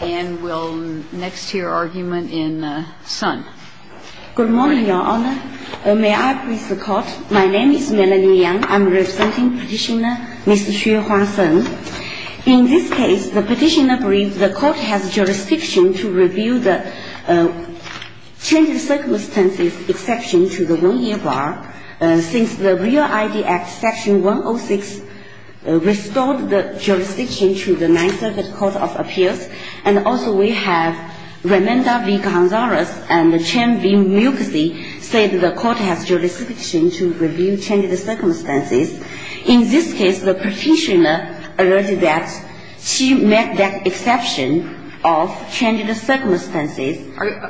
And we'll next hear argument in Sun. Good morning, Your Honor. May I please the Court? My name is Melanie Yang. I'm representing Petitioner Mr. Xue Huang Sen. In this case, the Petitioner believes the Court has jurisdiction to review the change of circumstances exception to the 1-year bar. Since the Real ID Act Section 106 restored the jurisdiction to the Ninth Circuit Court of Appeals, and also we have Raimunda v. Gonzalez and Chen v. Milksey say that the Court has jurisdiction to review change of circumstances. In this case, the Petitioner alerted that she made that exception of change of circumstances.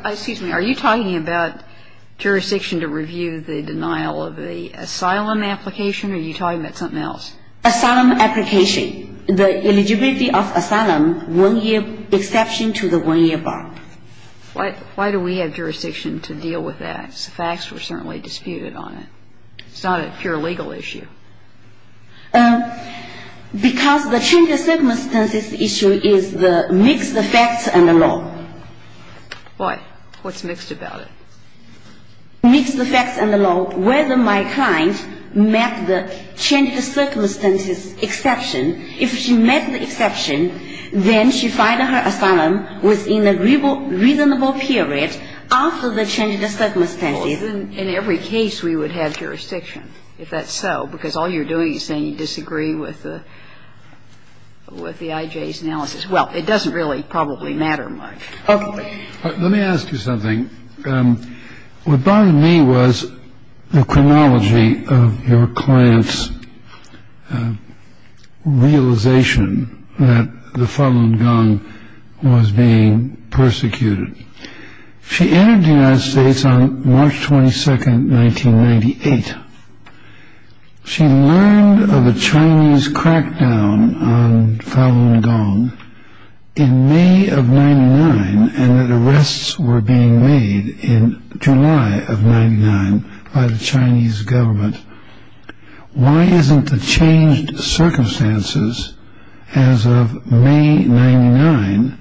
Excuse me. Are you talking about jurisdiction to review the denial of the asylum application, or are you talking about something else? Asylum application. The eligibility of asylum 1-year exception to the 1-year bar. Why do we have jurisdiction to deal with that? The facts were certainly disputed on it. It's not a pure legal issue. Because the change of circumstances issue is the mixed facts and the law. What? What's mixed about it? Mixed facts and the law, whether my client met the change of circumstances exception. If she met the exception, then she filed her asylum within a reasonable period after the change of circumstances. In every case, we would have jurisdiction, if that's so, because all you're doing is saying you disagree with the IJ's analysis. Well, it doesn't really probably matter much. Okay. Let me ask you something. What bothered me was the chronology of your client's realization that the Falun Gong was being persecuted. She entered the United States on March 22, 1998. She learned of a Chinese crackdown on Falun Gong in May of 99 and that arrests were being made in July of 99 by the Chinese government. Why isn't the changed circumstances as of May 99?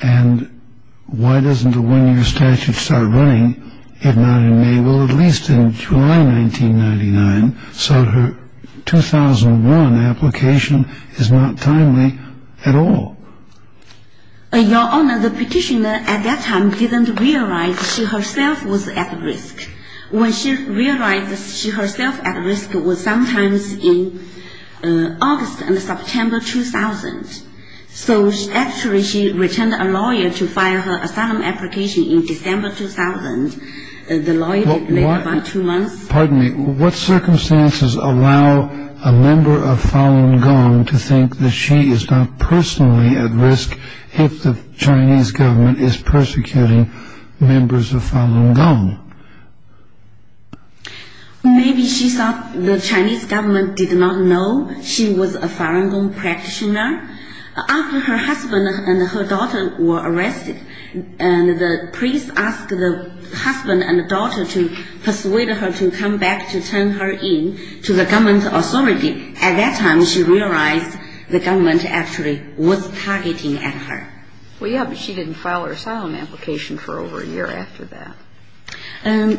And why doesn't the one-year statute start running if not in May? Well, at least in July 1999, so her 2001 application is not timely at all. Your Honor, the petitioner at that time didn't realize she herself was at risk. When she realized that she herself at risk was sometimes in August and September 2000. So actually she returned a lawyer to file her asylum application in December 2000. The lawyer didn't make it by two months. Pardon me. What circumstances allow a member of Falun Gong to think that she is not personally at risk if the Chinese government is persecuting members of Falun Gong? Maybe she thought the Chinese government did not know she was a Falun Gong practitioner. After her husband and her daughter were arrested and the priest asked the husband and daughter to persuade her to come back to turn her in to the government authority, at that time she realized the government actually was targeting at her. Well, yeah, but she didn't file her asylum application for over a year after that.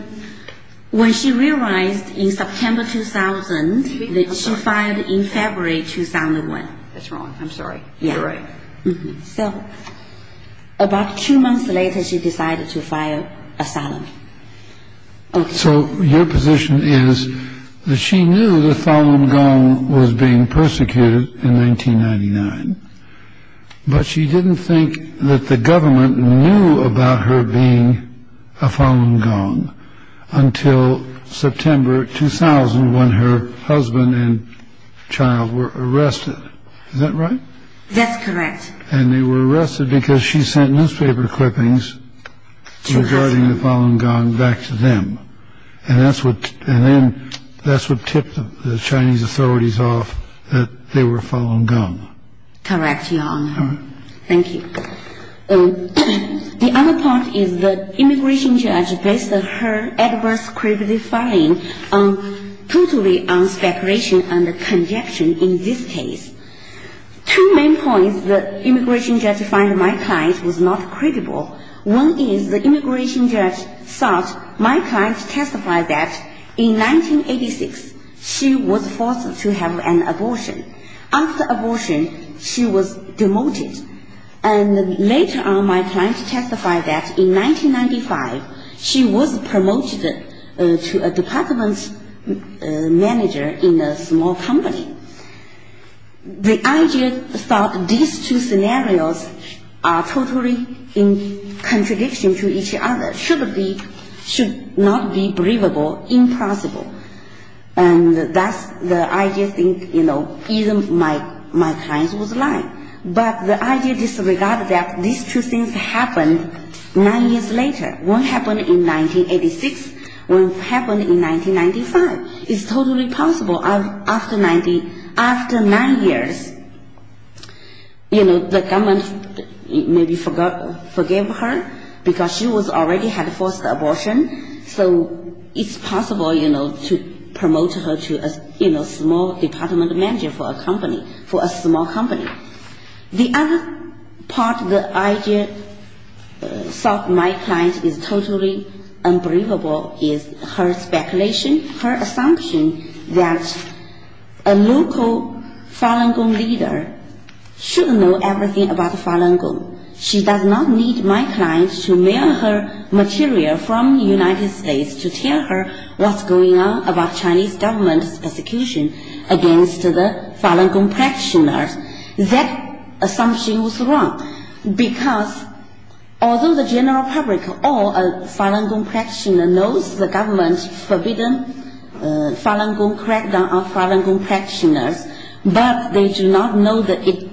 When she realized in September 2000 that she filed in February 2001. That's wrong. I'm sorry. You're right. So about two months later she decided to file asylum. So your position is that she knew the Falun Gong was being persecuted in 1999, but she didn't think that the government knew about her being a Falun Gong until September 2000 when her husband and child were arrested. Is that right? That's correct. And they were arrested because she sent newspaper clippings regarding the Falun Gong back to them. And then that's what tipped the Chinese authorities off that they were Falun Gong. Correct, Your Honor. Thank you. The other point is the immigration judge based her adverse criminal filing totally on speculation and conjecture in this case. Two main points the immigration judge found my client was not credible. One is the immigration judge thought my client testified that in 1986 she was forced to have an abortion. After abortion she was demoted. And later on my client testified that in 1995 she was promoted to a department manager in a small company. The IG thought these two scenarios are totally in contradiction to each other, should not be believable, impossible. And thus the IG think, you know, either my client was lying. But the IG disregarded that these two things happened nine years later. One happened in 1986, one happened in 1995. It's totally possible after nine years, you know, the government maybe forgave her because she already had forced abortion. So it's possible, you know, to promote her to a small department manager for a company, for a small company. The other part the IG thought my client is totally unbelievable is her speculation, her assumption that a local Falun Gong leader should know everything about Falun Gong. She does not need my client to mail her material from the United States to tell her what's going on about Chinese government's persecution against the Falun Gong practitioners. That assumption was wrong because although the general public or a Falun Gong practitioner knows the government forbidden Falun Gong crackdown of Falun Gong practitioners, but they do not know the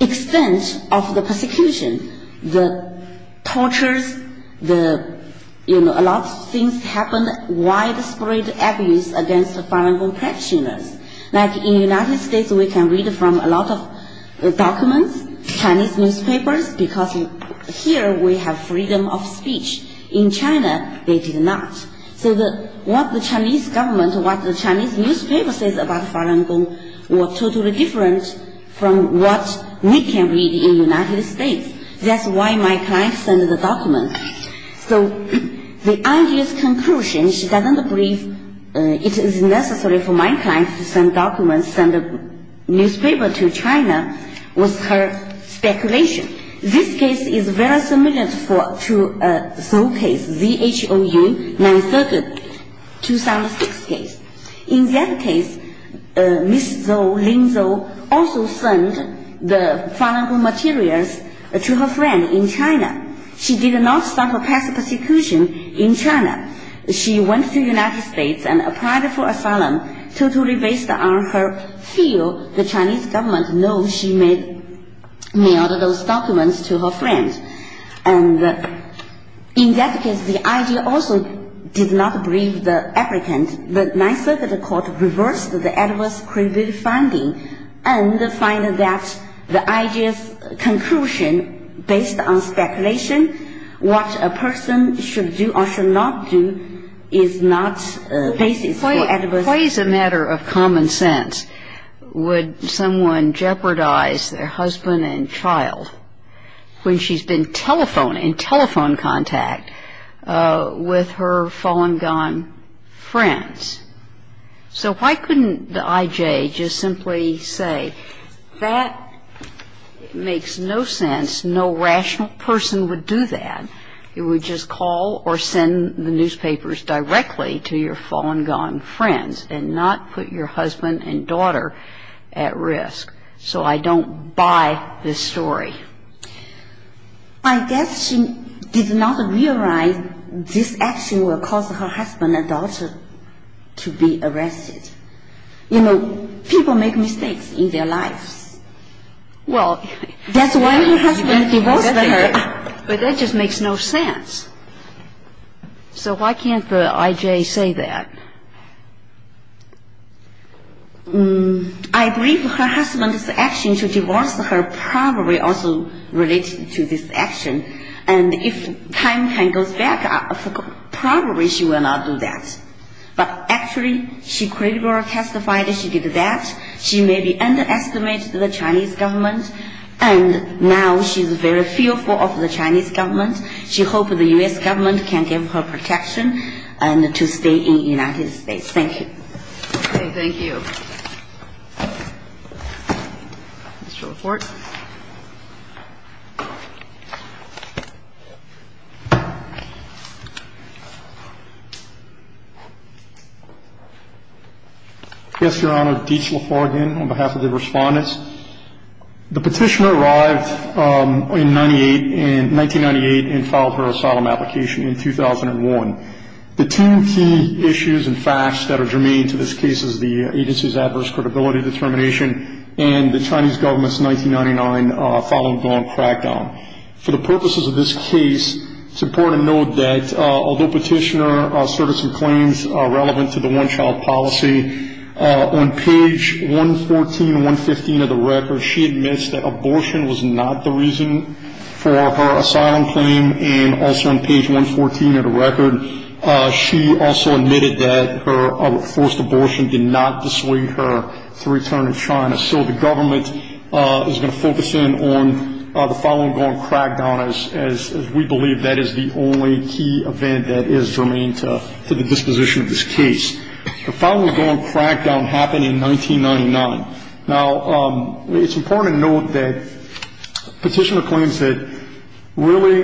extent of the persecution, the tortures, the, you know, a lot of things happened, widespread abuse against the Falun Gong practitioners. Like in the United States we can read from a lot of documents, Chinese newspapers, because here we have freedom of speech. In China they did not. So what the Chinese government, what the Chinese newspaper says about Falun Gong were totally different from what we can read in the United States. That's why my client sent the document. So the IG's conclusion, she doesn't believe it is necessary for my client to send documents, send a newspaper to China, was her speculation. This case is very similar to Zhou case, Z-H-O-U, 9th Circuit, 2006 case. In that case Ms. Zhou, Lin Zhou, also sent the Falun Gong materials to her friend in China. She did not stop her past persecution in China. She went to the United States and applied for asylum totally based on her fear the Chinese government knows she mailed those documents to her friend. And in that case the IG also did not believe the applicant. And the 9th Circuit Court reversed the adverse credibility finding and find that the IG's conclusion based on speculation, what a person should do or should not do is not basis for adverse credibility. So why couldn't the IG just simply say that makes no sense, no rational person would do that. It would just call or send the newspapers directly to your Falun Gong friends and not put your husband and daughter at risk. So I don't buy this story. I guess she did not realize this action will cause her husband and daughter to be arrested. You know, people make mistakes in their lives. That's why her husband divorced her. But that just makes no sense. So why can't the IG say that? I believe her husband's action to divorce her probably also related to this action. And if time can go back, probably she will not do that. But actually she credibly testified she did that. She maybe underestimated the Chinese government. And now she's very fearful of the Chinese government. She hopes the U.S. government can give her protection and to stay in the United States. Thank you. Mr. LaForte. Yes, Your Honor. Deitch LaForte again on behalf of the respondents. The petitioner arrived in 1998 and filed her asylum application in 2001. The two key issues and facts that are germane to this case is the agency's adverse credibility determination and the Chinese government's 1999 Falun Gong crackdown. For the purposes of this case, it's important to note that although petitioner asserted some claims relevant to the one-child policy, on page 114 and 115 of the record, she admits that abortion was not the reason for her asylum claim. And also on page 114 of the record, she also admitted that her forced abortion did not dissuade her to return to China. So the government is going to focus in on the Falun Gong crackdown, as we believe that is the only key event that is germane to the disposition of this case. The Falun Gong crackdown happened in 1999. Now, it's important to note that petitioner claims that really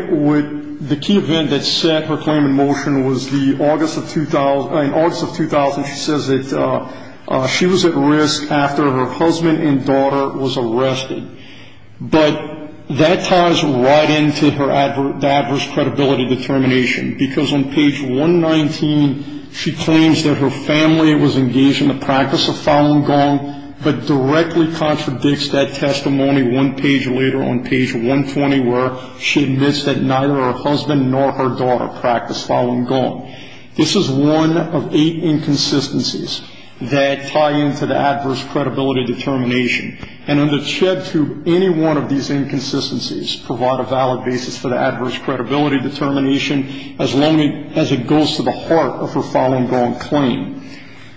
the key event that set her claim in motion was in August of 2000. She says that she was at risk after her husband and daughter was arrested. But that ties right into her adverse credibility determination, because on page 119, she claims that her family was engaged in the practice of Falun Gong, but directly contradicts that testimony one page later on page 120, where she admits that neither her husband nor her daughter practiced Falun Gong. This is one of eight inconsistencies that tie into the adverse credibility determination. And under CHED 2, any one of these inconsistencies provide a valid basis for the adverse credibility determination, as long as it goes to the heart of her Falun Gong claim.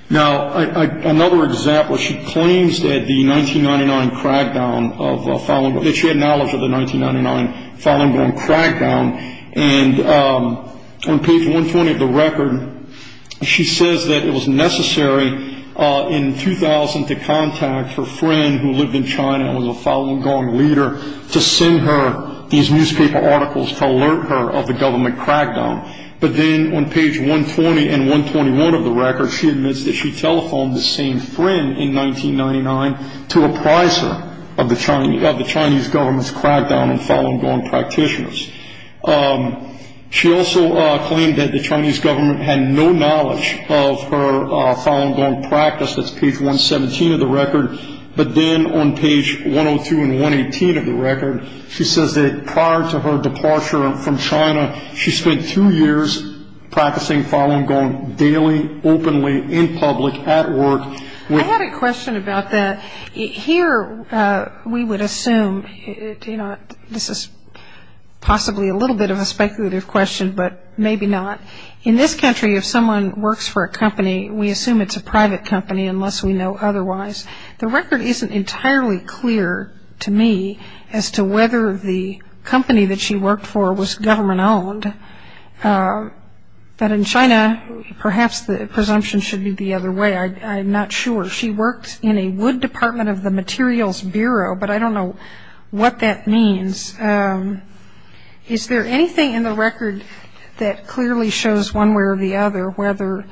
Now, another example, she claims that the 1999 crackdown of Falun Gong, that she had knowledge of the 1999 Falun Gong crackdown, and on page 120 of the record, she says that it was necessary in 2000 to contact her friend who lived in China and was a Falun Gong leader to send her these newspaper articles to alert her of the government crackdown. But then on page 120 and 121 of the record, she admits that she telephoned the same friend in 1999 to apprise her of the Chinese government's crackdown on Falun Gong practitioners. She also claimed that the Chinese government had no knowledge of her Falun Gong practice. That's page 117 of the record. But then on page 102 and 118 of the record, she says that prior to her departure from China, she spent two years practicing Falun Gong daily, openly, in public, at work. I had a question about that. Here, we would assume, you know, this is possibly a little bit of a speculative question, but maybe not. In this country, if someone works for a company, we assume it's a private company unless we know otherwise. The record isn't entirely clear to me as to whether the company that she worked for was government-owned. But in China, perhaps the presumption should be the other way. I'm not sure. She worked in a wood department of the Materials Bureau, but I don't know what that means. Is there anything in the record that clearly shows one way or the other, whether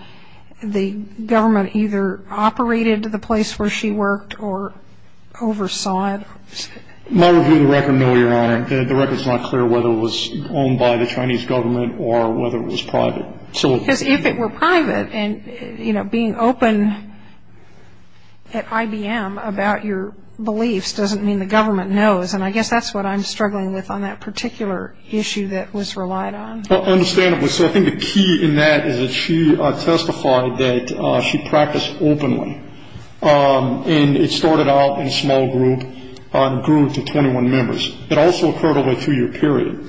the government either operated the place where she worked or oversaw it? My review of the record, no, Your Honor. The record's not clear whether it was owned by the Chinese government or whether it was private. Because if it were private, and, you know, being open at IBM about your beliefs doesn't mean the government knows, and I guess that's what I'm struggling with on that particular issue that was relied on. Well, understandably. So I think the key in that is that she testified that she practiced openly, and it started out in a small group and grew to 21 members. It also occurred over a two-year period.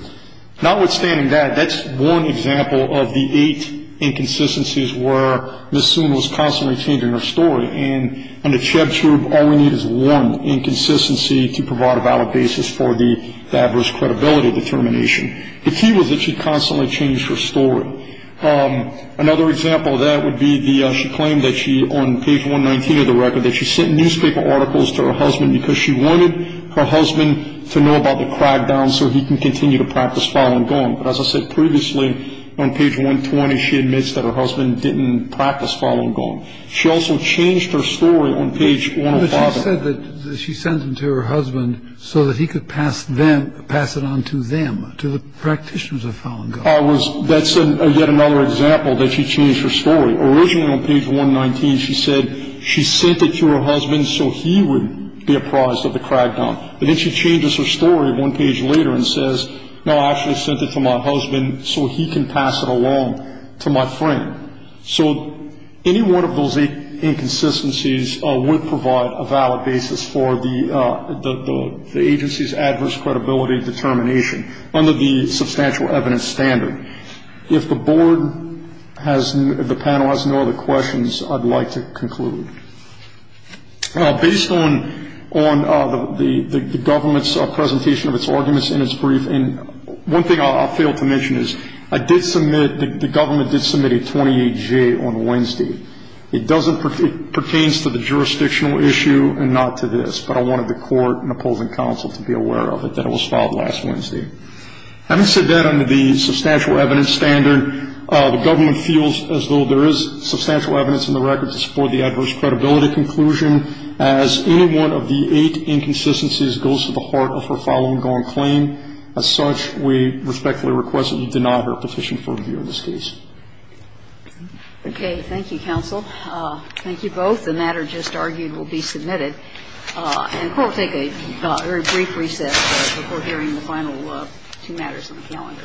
Notwithstanding that, that's one example of the eight inconsistencies where Ms. Sun was constantly changing her story. And under Cheb Shroob, all we need is one inconsistency to provide a valid basis for the adverse credibility determination. The key was that she constantly changed her story. Another example of that would be she claimed that she, on page 119 of the record, that she sent newspaper articles to her husband because she wanted her husband to know about the crackdown so he can continue to practice Falun Gong. But as I said previously, on page 120, she admits that her husband didn't practice Falun Gong. She also changed her story on page 115. But she said that she sent them to her husband so that he could pass it on to them, to the practitioners of Falun Gong. That's yet another example that she changed her story. Originally on page 119, she said she sent it to her husband so he would be apprised of the crackdown. But then she changes her story one page later and says, no, I actually sent it to my husband so he can pass it along to my friend. So any one of those eight inconsistencies would provide a valid basis for the agency's adverse credibility determination, under the substantial evidence standard. If the panel has no other questions, I'd like to conclude. Based on the government's presentation of its arguments in its brief, one thing I'll fail to mention is the government did submit a 28-G on Wednesday. It pertains to the jurisdictional issue and not to this, but I wanted the court and opposing counsel to be aware of it, that it was filed last Wednesday. Having said that, under the substantial evidence standard, the government feels as though there is substantial evidence in the record to support the adverse credibility conclusion. As any one of the eight inconsistencies goes to the heart of her Falun Gong claim, as such, we respectfully request that you deny her petition for review in this case. Okay. Thank you, counsel. Thank you both. The matter just argued will be submitted. And we'll take a very brief recess before hearing the final two matters on the calendar.